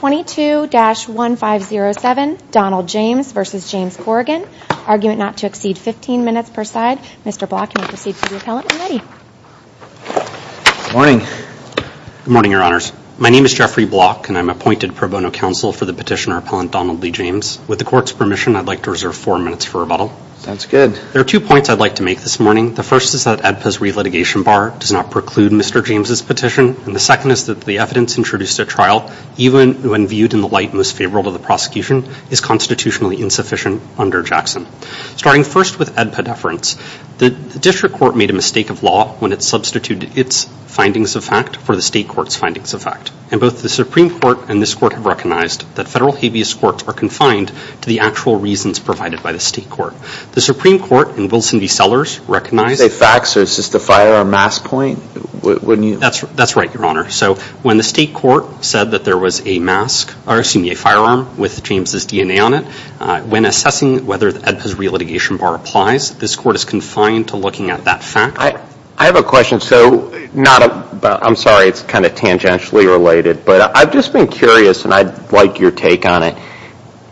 22-1507 Donald James v. James Corrigan, argument not to exceed 15 minutes per side. Mr. Block, you may proceed to the appellant when ready. Good morning. Good morning, Your Honors. My name is Jeffrey Block, and I'm appointed pro bono counsel for the petitioner appellant Donald Lee James. With the court's permission, I'd like to reserve four minutes for rebuttal. Sounds good. There are two points I'd like to make this morning. The first is that ADPA's relitigation bar does not preclude Mr. James' petition, and the second is that the evidence introduced at trial, even when viewed in the light most favorable to the prosecution, is constitutionally insufficient under Jackson. Starting first with ADPA deference, the district court made a mistake of law when it substituted its findings of fact for the state court's findings of fact, and both the Supreme Court and this court have recognized that federal habeas courts are confined to the actual reasons provided by the state court. The Supreme Court and Wilson v. Sellers recognize... Did you say facts or is this the fire on mass point? That's right, Your Honor. So when the state court said that there was a mask, or excuse me, a firearm with James' DNA on it, when assessing whether ADPA's relitigation bar applies, this court is confined to looking at that fact. I have a question. I'm sorry, it's kind of tangentially related, but I've just been curious, and I'd like your take on it.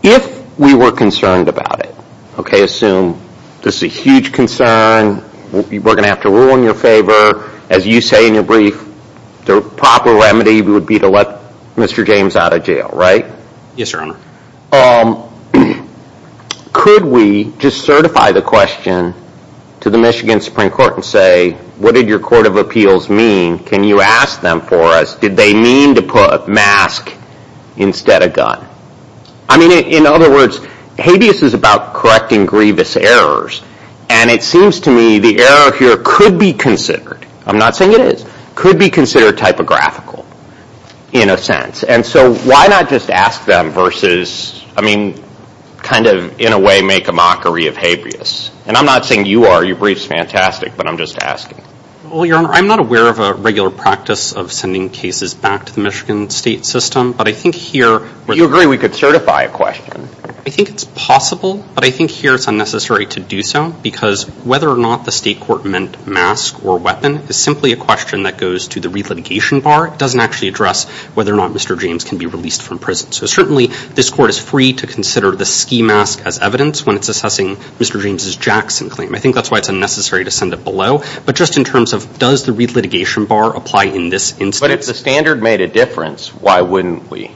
If we were concerned about it, okay, assume this is a huge concern, we're going to have to rule in your favor. As you say in your brief, the proper remedy would be to let Mr. James out of jail, right? Yes, Your Honor. Could we just certify the question to the Michigan Supreme Court and say, what did your court of appeals mean? Can you ask them for us, did they mean to put mask instead of gun? I mean, in other words, habeas is about correcting grievous errors, and it seems to me the error here could be considered, I'm not saying it is, could be considered typographical in a sense. And so why not just ask them versus, I mean, kind of in a way make a mockery of habeas? And I'm not saying you are, your brief's fantastic, but I'm just asking. Well, Your Honor, I'm not aware of a regular practice of sending cases back to the Michigan state system, but I think here- You agree we could certify a question. I think it's possible, but I think here it's unnecessary to do so, because whether or not the state court meant mask or weapon is simply a question that goes to the re-litigation bar. It doesn't actually address whether or not Mr. James can be released from prison. So certainly this court is free to consider the ski mask as evidence when it's assessing Mr. James' Jackson claim. I think that's why it's unnecessary to send it below. But just in terms of does the re-litigation bar apply in this instance- But if the standard made a difference, why wouldn't we?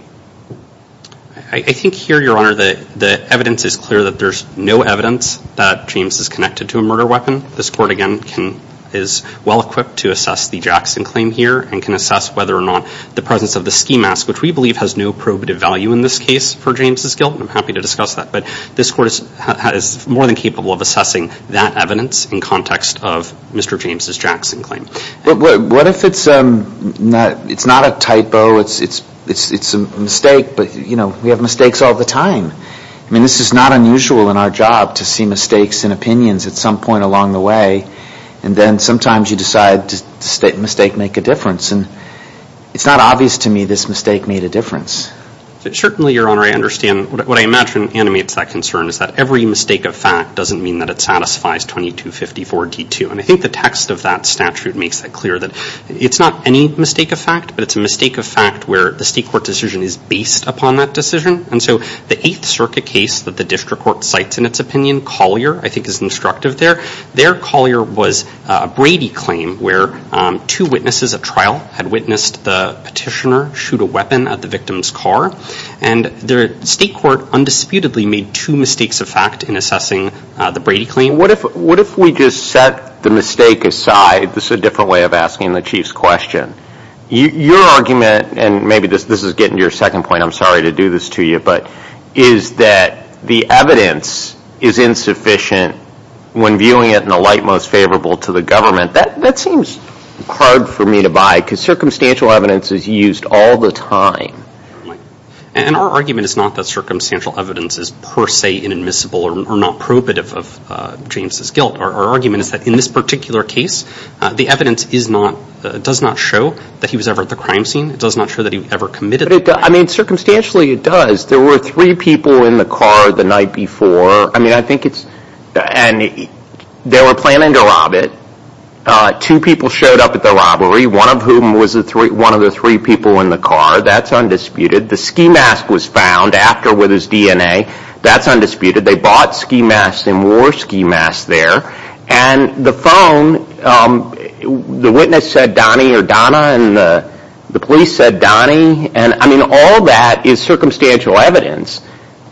I think here, Your Honor, the evidence is clear that there's no evidence that James is connected to a murder weapon. This court, again, is well-equipped to assess the Jackson claim here and can assess whether or not the presence of the ski mask, which we believe has no probative value in this case for James' guilt, and I'm happy to discuss that. But this court is more than capable of assessing that evidence in context of Mr. James' Jackson claim. But what if it's not a typo, it's a mistake, but, you know, we have mistakes all the time. I mean, this is not unusual in our job to see mistakes in opinions at some point along the way, and then sometimes you decide to make a mistake make a difference. And it's not obvious to me this mistake made a difference. Certainly, Your Honor, I understand. What I imagine animates that concern is that every mistake of fact doesn't mean that it satisfies 2254d2. And I think the text of that statute makes it clear that it's not any mistake of fact, but it's a mistake of fact where the state court decision is based upon that decision. And so the Eighth Circuit case that the district court cites in its opinion, Collier, I think, is instructive there. There, Collier was a Brady claim where two witnesses at trial had witnessed the petitioner shoot a weapon at the victim's car. And the state court undisputedly made two mistakes of fact in assessing the Brady claim. I mean, what if we just set the mistake aside? This is a different way of asking the Chief's question. Your argument, and maybe this is getting to your second point, I'm sorry to do this to you, but is that the evidence is insufficient when viewing it in a light most favorable to the government. That seems hard for me to buy because circumstantial evidence is used all the time. And our argument is not that circumstantial evidence is per se inadmissible or not prohibitive of James' guilt. Our argument is that in this particular case, the evidence does not show that he was ever at the crime scene. It does not show that he ever committed. I mean, circumstantially it does. There were three people in the car the night before. I mean, I think it's – and they were planning to rob it. Two people showed up at the robbery, one of whom was one of the three people in the car. That's undisputed. The ski mask was found after with his DNA. That's undisputed. They bought ski masks and wore ski masks there. And the phone, the witness said Donnie or Donna, and the police said Donnie. And, I mean, all that is circumstantial evidence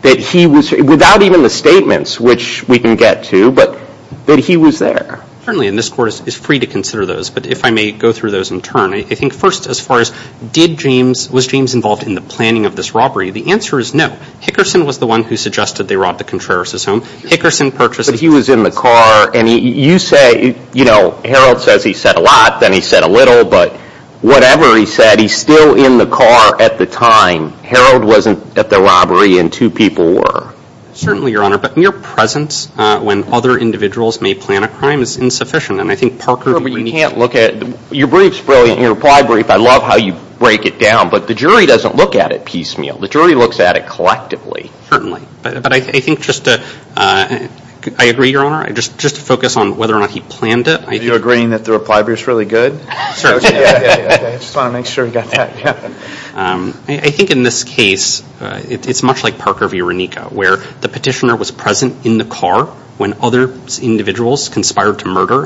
that he was – without even the statements, which we can get to, but that he was there. Certainly, and this Court is free to consider those. But if I may go through those in turn, I think first as far as did James – was James involved in the planning of this robbery? The answer is no. Hickerson was the one who suggested they rob the Contreras' home. Hickerson purchased – But he was in the car. And you say, you know, Harold says he said a lot, then he said a little. But whatever he said, he's still in the car at the time. Harold wasn't at the robbery, and two people were. Certainly, Your Honor. But mere presence when other individuals may plan a crime is insufficient. And I think Parker – But you can't look at – your brief's brilliant, your reply brief. I love how you break it down. But the jury doesn't look at it piecemeal. The jury looks at it collectively. Certainly. But I think just to – I agree, Your Honor. Just to focus on whether or not he planned it. Are you agreeing that the reply brief's really good? Certainly. I just want to make sure we got that. I think in this case, it's much like Parker v. Renico, where the petitioner was present in the car when other individuals conspired to murder.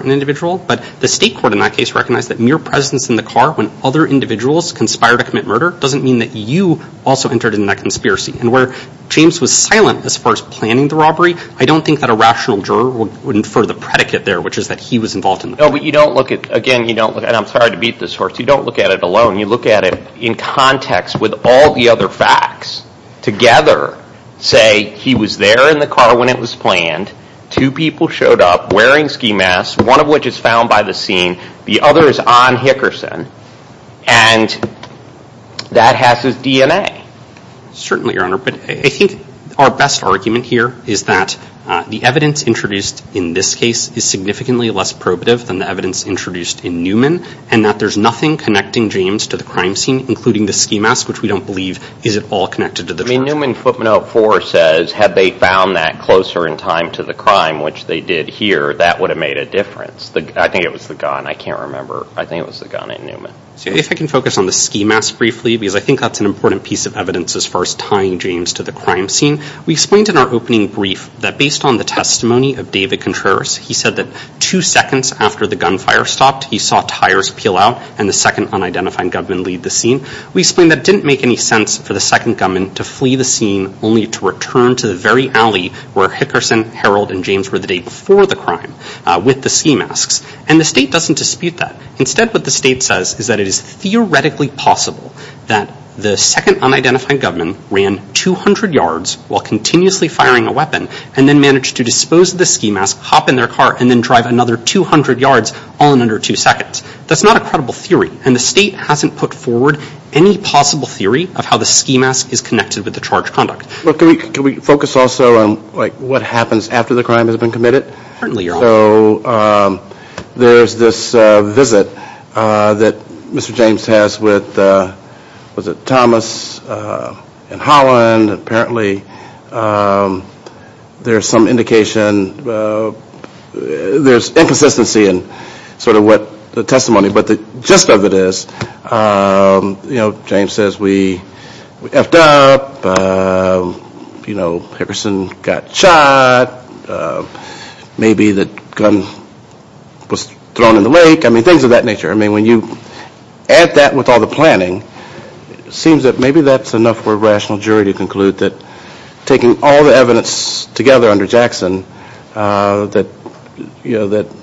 But the state court in that case recognized that mere presence in the car when other individuals conspired to commit murder doesn't mean that you also entered in that conspiracy. And where James was silent as far as planning the robbery, I don't think that a rational juror would infer the predicate there, which is that he was involved in it. No, but you don't look at – again, you don't look at – and I'm sorry to beat this horse. You don't look at it alone. You look at it in context with all the other facts together, say he was there in the car when it was planned, two people showed up wearing ski masks, one of which is found by the scene, the other is on Hickerson, and that has his DNA. Certainly, Your Honor, but I think our best argument here is that the evidence introduced in this case is significantly less probative than the evidence introduced in Newman, and that there's nothing connecting James to the crime scene, including the ski mask, which we don't believe is at all connected to the charge. I mean, Newman footnote four says had they found that closer in time to the crime, which they did here, that would have made a difference. I think it was the gun. I can't remember. I think it was the gun in Newman. If I can focus on the ski mask briefly, because I think that's an important piece of evidence as far as tying James to the crime scene. We explained in our opening brief that based on the testimony of David Contreras, he said that two seconds after the gunfire stopped, he saw tires peel out and the second unidentified gunman lead the scene. We explained that it didn't make any sense for the second gunman to flee the scene, only to return to the very alley where Hickerson, Harold, and James were the day before the crime with the ski masks, and the state doesn't dispute that. Instead, what the state says is that it is theoretically possible that the second unidentified gunman ran 200 yards while continuously firing a weapon and then managed to dispose of the ski mask, hop in their car, and then drive another 200 yards all in under two seconds. That's not a credible theory, and the state hasn't put forward any possible theory of how the ski mask is connected with the charged conduct. Can we focus also on what happens after the crime has been committed? Certainly, Your Honor. There's this visit that Mr. James has with Thomas and Holland. Apparently, there's some indication, there's inconsistency in sort of what the testimony, but the gist of it is, you know, James says we effed up, you know, Hickerson got shot, maybe the gun was thrown in the lake, I mean, things of that nature. I mean, when you add that with all the planning, it seems that maybe that's enough for a rational jury to conclude that taking all the evidence together that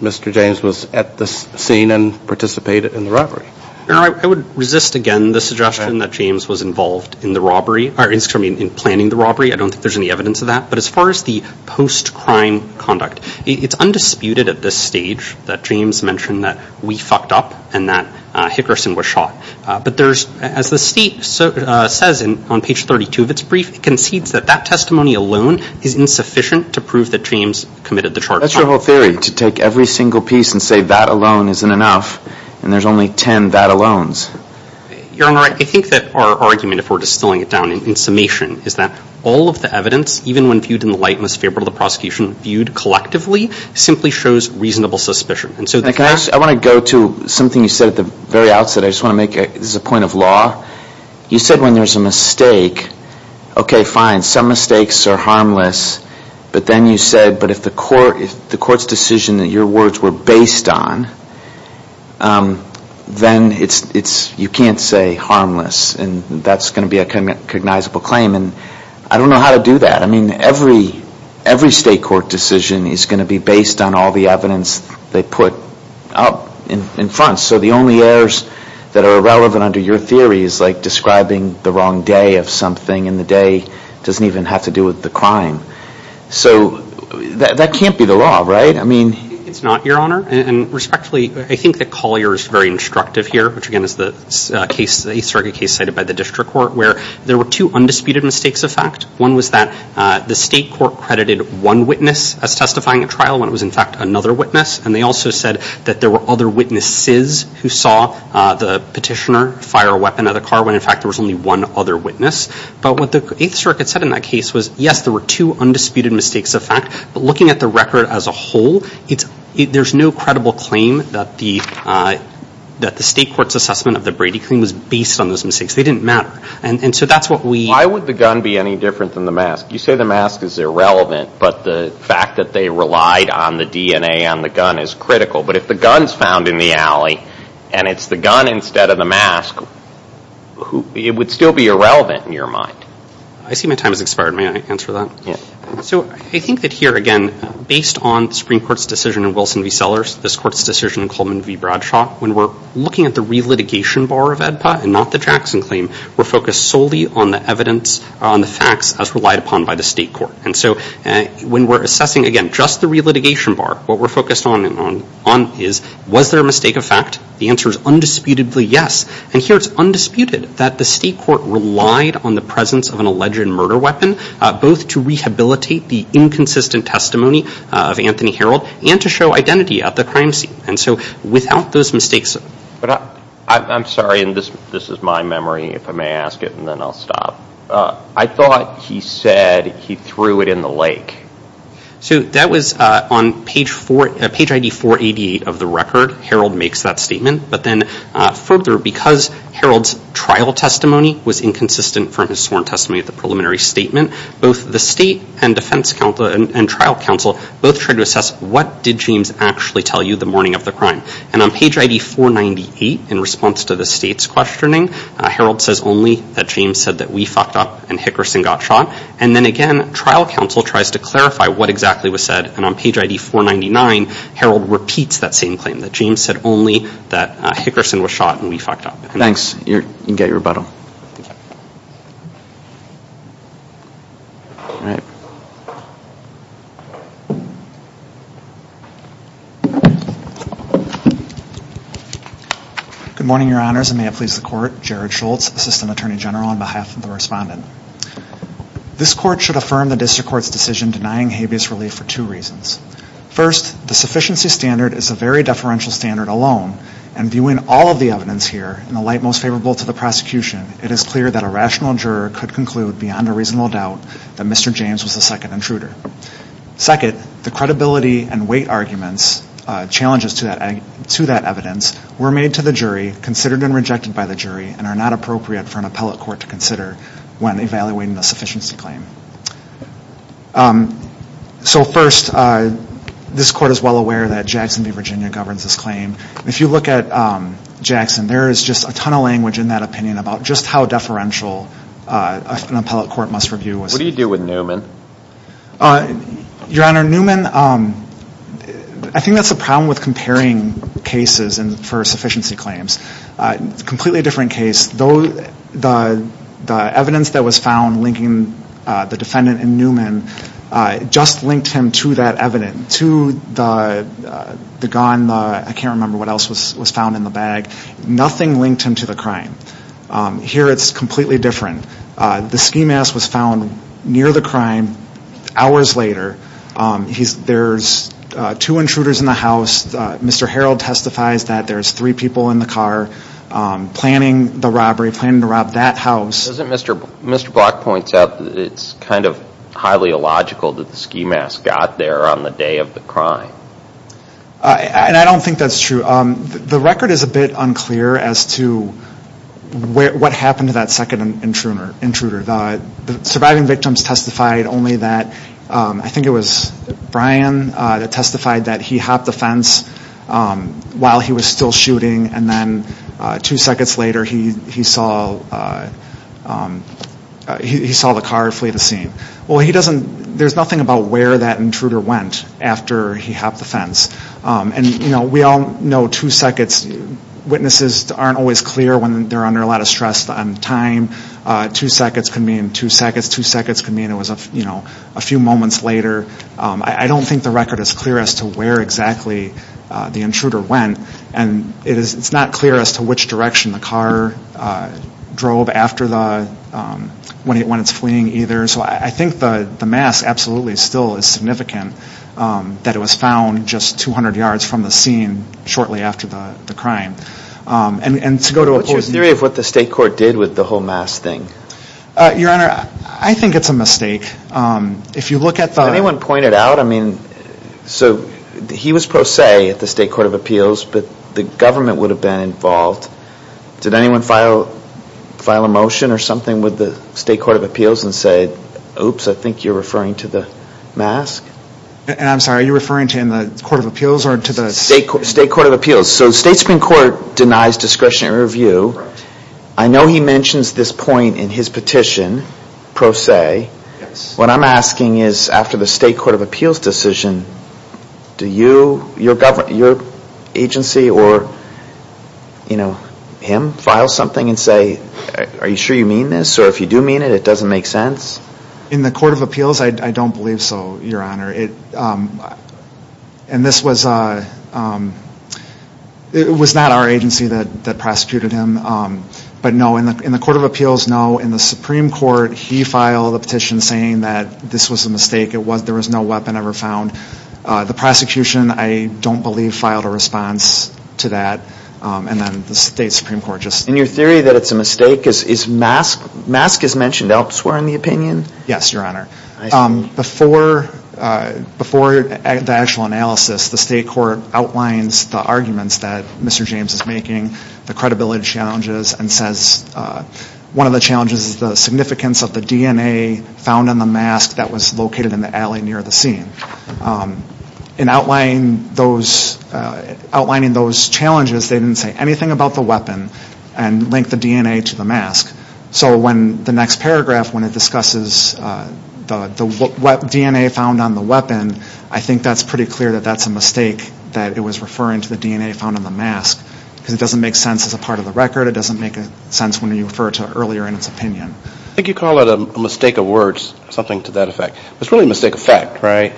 Mr. James was at the scene and participated in the robbery. Your Honor, I would resist again the suggestion that James was involved in the robbery, I mean, in planning the robbery. I don't think there's any evidence of that. But as far as the post-crime conduct, it's undisputed at this stage that James mentioned that we fucked up and that Hickerson was shot. But there's, as the state says on page 32 of its brief, it concedes that that testimony alone is insufficient to prove that James committed the charge. That's your whole theory, to take every single piece and say that alone isn't enough, and there's only ten that alones. Your Honor, I think that our argument, if we're distilling it down in summation, is that all of the evidence, even when viewed in the light most favorable to the prosecution, viewed collectively, simply shows reasonable suspicion. I want to go to something you said at the very outset. I just want to make it as a point of law. You said when there's a mistake, okay, fine, some mistakes are harmless. But then you said, but if the court's decision that your words were based on, then you can't say harmless. And that's going to be a cognizable claim. And I don't know how to do that. I mean, every state court decision is going to be based on all the evidence they put up in front. So the only errors that are relevant under your theory is like describing the wrong day of something and the day doesn't even have to do with the crime. So that can't be the law, right? I mean... It's not, Your Honor. And respectfully, I think that Collier is very instructive here, which again is the case, the East Circuit case cited by the District Court, where there were two undisputed mistakes of fact. One was that the state court credited one witness as testifying at trial when it was in fact another witness. And they also said that there were other witnesses who saw the petitioner fire a weapon at a car when in fact there was only one other witness. But what the Eighth Circuit said in that case was, yes, there were two undisputed mistakes of fact. But looking at the record as a whole, there's no credible claim that the state court's assessment of the Brady claim was based on those mistakes. They didn't matter. And so that's what we... Why would the gun be any different than the mask? You say the mask is irrelevant, but the fact that they relied on the DNA on the gun is critical. But if the gun's found in the alley and it's the gun instead of the mask, it would still be irrelevant in your mind. I see my time has expired. May I answer that? Yeah. So I think that here, again, based on the Supreme Court's decision in Wilson v. Sellers, this court's decision in Coleman v. Bradshaw, when we're looking at the relitigation bar of AEDPA and not the Jackson claim, we're focused solely on the facts as relied upon by the state court. And so when we're assessing, again, just the relitigation bar, what we're focused on is, was there a mistake of fact? The answer is undisputedly yes. And here it's undisputed that the state court relied on the presence of an alleged murder weapon, both to rehabilitate the inconsistent testimony of Anthony Herold and to show identity at the crime scene. And so without those mistakes... I'm sorry, and this is my memory, if I may ask it, and then I'll stop. I thought he said he threw it in the lake. So that was on page 488 of the record. Herold makes that statement. But then further, because Herold's trial testimony was inconsistent from his sworn testimony at the preliminary statement, both the state and defense counsel and trial counsel both tried to assess, what did James actually tell you the morning of the crime? And on page ID 498, in response to the state's questioning, Herold says only that James said that we fucked up and Hickerson got shot. And then again, trial counsel tries to clarify what exactly was said. And on page ID 499, Herold repeats that same claim, that James said only that Hickerson was shot and we fucked up. Thanks. You can get your rebuttal. Good morning, Your Honors, and may it please the Court. Jared Schultz, Assistant Attorney General, on behalf of the respondent. This Court should affirm the District Court's decision denying habeas relief for two reasons. First, the sufficiency standard is a very deferential standard alone, and viewing all of the evidence here in the light most favorable to the prosecution, it is clear that a rational juror could conclude beyond a reasonable doubt that Mr. James was the second intruder. Second, the credibility and weight arguments, challenges to that evidence, were made to the jury, considered and rejected by the jury, and are not appropriate for an appellate court to consider when evaluating a sufficiency claim. So first, this Court is well aware that Jackson v. Virginia governs this claim. If you look at Jackson, there is just a ton of language in that opinion about just how deferential an appellate court must review. What do you do with Newman? Your Honor, Newman, I think that's the problem with comparing cases for sufficiency claims. It's a completely different case. The evidence that was found linking the defendant and Newman just linked him to that evidence, to the gun, I can't remember what else was found in the bag. Nothing linked him to the crime. Here, it's completely different. The ski mask was found near the crime hours later. There's two intruders in the house. Mr. Harreld testifies that there's three people in the car planning the robbery, planning to rob that house. Doesn't Mr. Block point out that it's kind of highly illogical that the ski mask got there on the day of the crime? I don't think that's true. The record is a bit unclear as to what happened to that second intruder. The surviving victims testified only that, I think it was Brian that testified that he hopped the fence while he was still shooting, and then two seconds later he saw the car flee the scene. There's nothing about where that intruder went after he hopped the fence. We all know two seconds, witnesses aren't always clear when they're under a lot of stress on time. Two seconds can mean two seconds, two seconds can mean it was a few moments later. I don't think the record is clear as to where exactly the intruder went, and it's not clear as to which direction the car drove when it's fleeing either. So I think the mask absolutely still is significant that it was found just 200 yards from the scene shortly after the crime. What's your theory of what the state court did with the whole mask thing? Your Honor, I think it's a mistake. Did anyone point it out? He was pro se at the state court of appeals, but the government would have been involved. Did anyone file a motion or something with the state court of appeals and say, oops, I think you're referring to the mask? I'm sorry, are you referring to the court of appeals or to the state court? State court of appeals. So the state Supreme Court denies discretionary review. I know he mentions this point in his petition, pro se. What I'm asking is after the state court of appeals decision, do your agency or him file something and say, are you sure you mean this? Or if you do mean it, it doesn't make sense? In the court of appeals, I don't believe so, Your Honor. And this was not our agency that prosecuted him. But no, in the court of appeals, no. In the Supreme Court, he filed a petition saying that this was a mistake. There was no weapon ever found. The prosecution, I don't believe, filed a response to that. And then the state Supreme Court just ---- In your theory that it's a mistake, mask is mentioned elsewhere in the opinion? Yes, Your Honor. Before the actual analysis, the state court outlines the arguments that Mr. James is making, the credibility challenges, and says one of the challenges is the significance of the DNA found in the mask that was located in the alley near the scene. In outlining those challenges, they didn't say anything about the weapon and link the DNA to the mask. So when the next paragraph, when it discusses the DNA found on the weapon, I think that's pretty clear that that's a mistake that it was referring to the DNA found on the mask because it doesn't make sense as a part of the record. It doesn't make sense when you refer to earlier in its opinion. I think you call it a mistake of words, something to that effect. It's really a mistake of fact, right?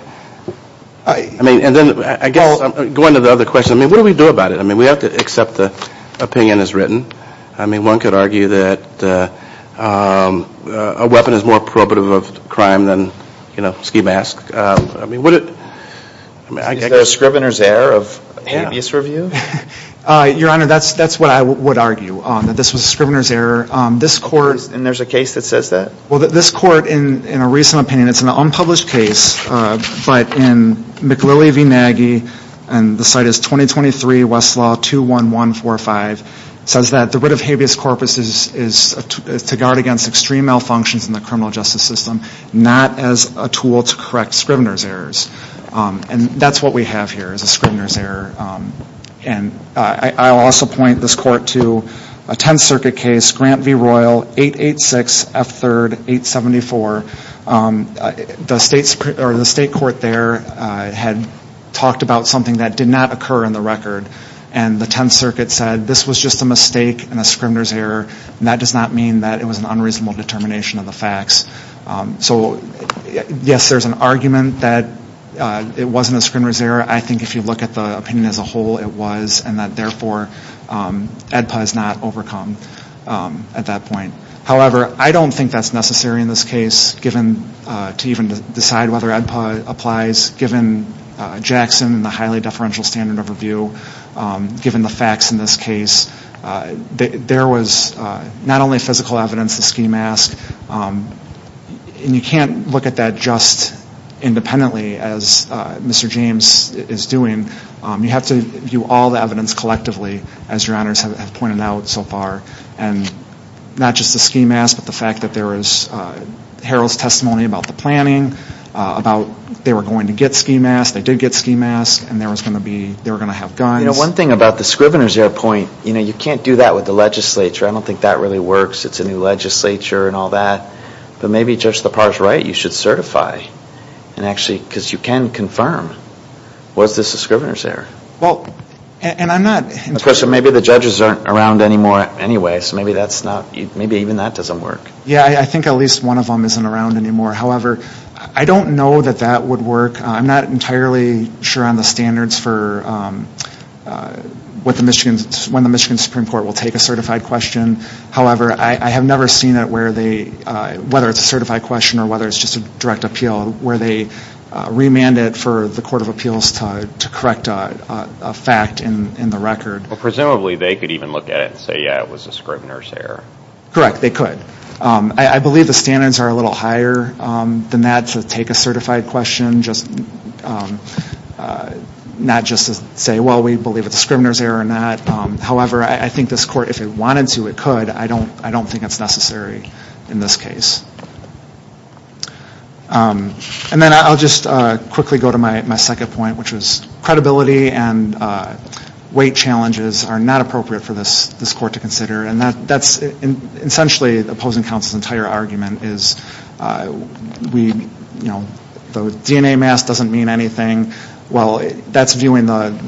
I mean, and then I guess going to the other question, I mean, what do we do about it? I mean, we have to accept the opinion as written. I mean, one could argue that a weapon is more probative of crime than, you know, a ski mask. I mean, would it ---- Is there a Scrivener's Error of Habeas Review? Your Honor, that's what I would argue, that this was a Scrivener's Error. This court ---- And there's a case that says that? Well, this court, in a recent opinion, it's an unpublished case. But in McLilley v. Nagy, and the site is 2023 Westlaw 21145, says that the writ of habeas corpus is to guard against extreme malfunctions in the criminal justice system, not as a tool to correct Scrivener's Errors. And that's what we have here is a Scrivener's Error. And I'll also point this court to a Tenth Circuit case, Grant v. Royal, 886 F3rd 874. The state court there had talked about something that did not occur in the record. And the Tenth Circuit said this was just a mistake and a Scrivener's Error, and that does not mean that it was an unreasonable determination of the facts. So, yes, there's an argument that it wasn't a Scrivener's Error. I think if you look at the opinion as a whole, it was, and that, therefore, AEDPA is not overcome at that point. However, I don't think that's necessary in this case to even decide whether AEDPA applies, given Jackson and the highly deferential standard of review, given the facts in this case. There was not only physical evidence, the ski mask, and you can't look at that just independently as Mr. James is doing. You have to view all the evidence collectively, as your honors have pointed out so far, and not just the ski mask, but the fact that there was Harold's testimony about the planning, about they were going to get ski masks, they did get ski masks, and they were going to have guns. You know, one thing about the Scrivener's Error point, you know, you can't do that with the legislature. I don't think that really works. It's a new legislature and all that. But maybe Judge Lepar's right. You should certify and actually, because you can confirm, was this a Scrivener's Error? Well, and I'm not. Of course, so maybe the judges aren't around anymore anyway. So maybe that's not, maybe even that doesn't work. Yeah, I think at least one of them isn't around anymore. However, I don't know that that would work. I'm not entirely sure on the standards for when the Michigan Supreme Court will take a certified question. However, I have never seen it where they, whether it's a certified question or whether it's just a direct appeal, where they remand it for the Court of Appeals to correct a fact in the record. Well, presumably they could even look at it and say, yeah, it was a Scrivener's Error. Correct, they could. I believe the standards are a little higher than that to take a certified question, not just to say, well, we believe it's a Scrivener's Error or not. However, I think this court, if it wanted to, it could. I don't think it's necessary in this case. And then I'll just quickly go to my second point, which was credibility and weight challenges are not appropriate for this court to consider. And that's essentially opposing counsel's entire argument is the DNA mask doesn't mean anything. Well, that's viewing the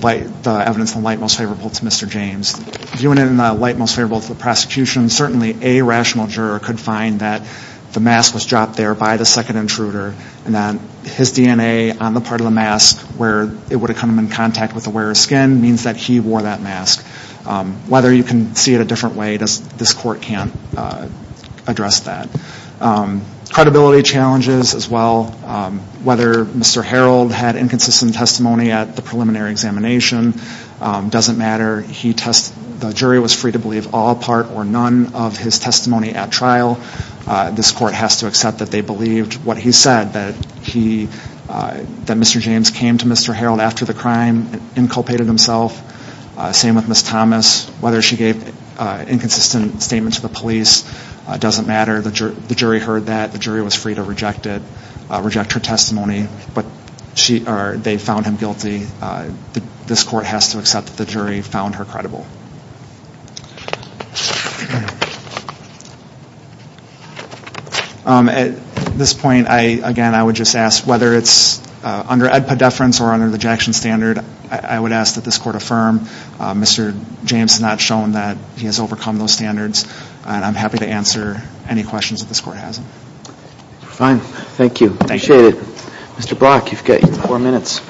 evidence in the light most favorable to Mr. James. Viewing it in the light most favorable to the prosecution, certainly a rational juror could find that the mask was dropped there by the second intruder and that his DNA on the part of the mask where it would have come in contact with the wearer's skin means that he wore that mask. Whether you can see it a different way, this court can't address that. Credibility challenges as well. Whether Mr. Harold had inconsistent testimony at the preliminary examination doesn't matter. The jury was free to believe all part or none of his testimony at trial. This court has to accept that they believed what he said, that Mr. James came to Mr. Harold after the crime and inculpated himself. Same with Ms. Thomas. Whether she gave inconsistent statements to the police doesn't matter. The jury heard that. The jury was free to reject it, reject her testimony. But they found him guilty. This court has to accept that the jury found her credible. At this point, again, I would just ask whether it's under EDPA deference or under the Jackson standard, I would ask that this court affirm Mr. James has not shown that he has overcome those standards, and I'm happy to answer any questions that this court has. Fine. Thank you. Appreciate it. Mr. Brock, you've got four minutes.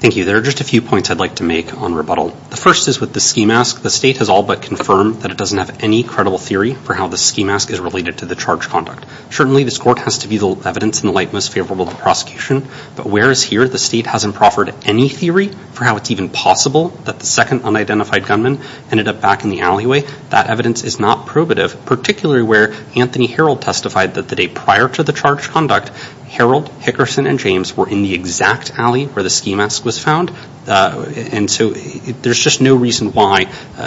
Thank you. There are just a few points I'd like to make on rebuttal. The first is with the ski mask. The state has all but confirmed that it doesn't have any credible theory for how the ski mask is related to the charge conduct. Certainly, this court has to be the evidence in the light most favorable to the prosecution. But whereas here the state hasn't proffered any theory for how it's even possible that the second unidentified gunman ended up back in the alleyway, that evidence is not probative, particularly where Anthony Herold testified that the day prior to the charge conduct, Herold, Hickerson, and James were in the exact alley where the ski mask was found. And so there's just no reason why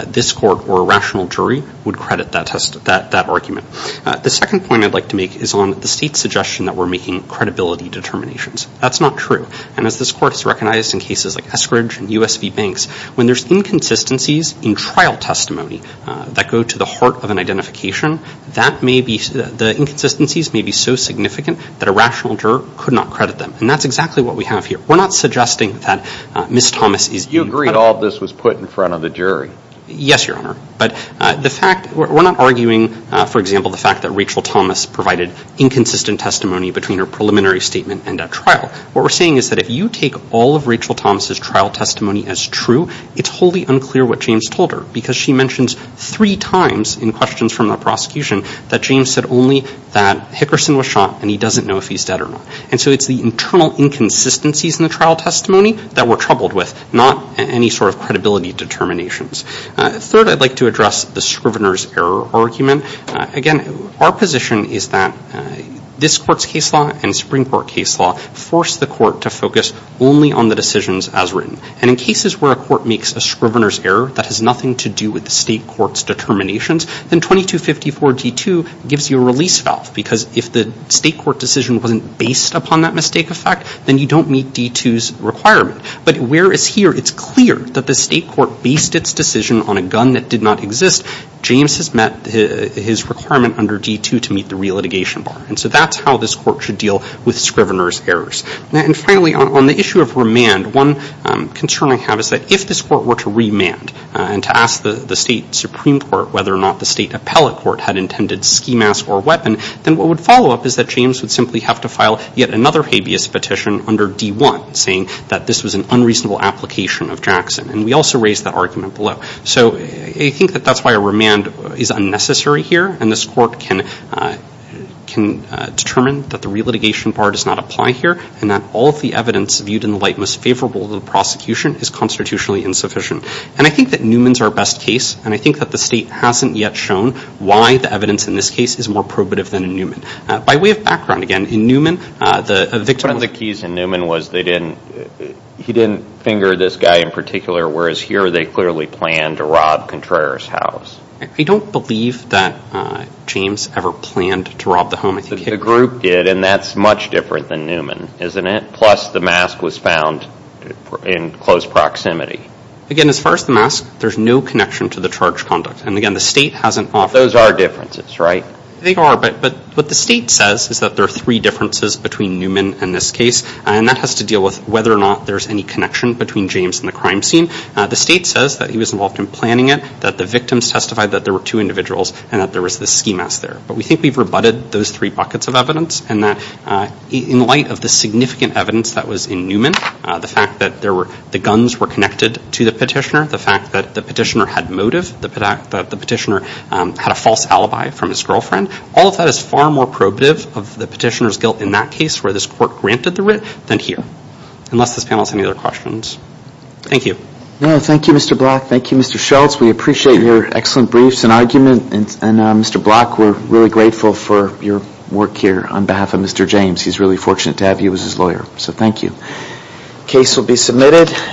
this court or a rational jury would credit that argument. The second point I'd like to make is on the state's suggestion that we're making credibility determinations. That's not true. And as this court has recognized in cases like Eskridge and USB Banks, when there's inconsistencies in trial testimony that go to the heart of an identification, the inconsistencies may be so significant that a rational juror could not credit them. And that's exactly what we have here. We're not suggesting that Ms. Thomas is- You agree all of this was put in front of the jury? Yes, Your Honor. But the fact- We're not arguing, for example, the fact that Rachel Thomas provided inconsistent testimony between her preliminary statement and at trial. What we're saying is that if you take all of Rachel Thomas' trial testimony as true, it's wholly unclear what James told her because she mentions three times in questions from the prosecution that James said only that Hickerson was shot and he doesn't know if he's dead or not. And so it's the internal inconsistencies in the trial testimony that we're troubled with, not any sort of credibility determinations. Third, I'd like to address the scrivener's error argument. Again, our position is that this court's case law and Supreme Court case law force the court to focus only on the decisions as written. And in cases where a court makes a scrivener's error that has nothing to do with the state court's determinations, then 2254 D.2 gives you a release valve because if the state court decision wasn't based upon that mistake effect, then you don't meet D.2's requirement. But whereas here it's clear that the state court based its decision on a gun that did not exist, James has met his requirement under D.2 to meet the re-litigation bar. And so that's how this court should deal with scrivener's errors. And finally, on the issue of remand, one concern I have is that if this court were to remand and to ask the state Supreme Court whether or not the state appellate court had intended ski mask or weapon, then what would follow up is that James would simply have to file yet another habeas petition under D.1 saying that this was an unreasonable application of Jackson. And we also raised that argument below. So I think that that's why a remand is unnecessary here, and this court can determine that the re-litigation bar does not apply here and that all of the evidence viewed in the light most favorable to the prosecution is constitutionally insufficient. And I think that Newman's our best case, and I think that the state hasn't yet shown why the evidence in this case is more probative than in Newman. By way of background, again, in Newman, the victim was- One of the keys in Newman was he didn't finger this guy in particular, whereas here they clearly planned to rob Contreras' house. I don't believe that James ever planned to rob the home. The group did, and that's much different than Newman, isn't it? Plus the mask was found in close proximity. Again, as far as the mask, there's no connection to the charge conduct. And again, the state hasn't offered- Those are differences, right? They are, but what the state says is that there are three differences between Newman and this case, and that has to deal with whether or not there's any connection between James and the crime scene. The state says that he was involved in planning it, that the victims testified that there were two individuals, and that there was this ski mask there. But we think we've rebutted those three buckets of evidence, and that in light of the significant evidence that was in Newman, the fact that the guns were connected to the petitioner, the fact that the petitioner had motive, the fact that the petitioner had a false alibi from his girlfriend, all of that is far more probative of the petitioner's guilt in that case, where this court granted the writ, than here. Unless this panel has any other questions. Thank you. No, thank you, Mr. Black. Thank you, Mr. Schultz. We appreciate your excellent briefs and argument. And Mr. Black, we're really grateful for your work here on behalf of Mr. James. He's really fortunate to have you as his lawyer. So thank you. Case will be submitted.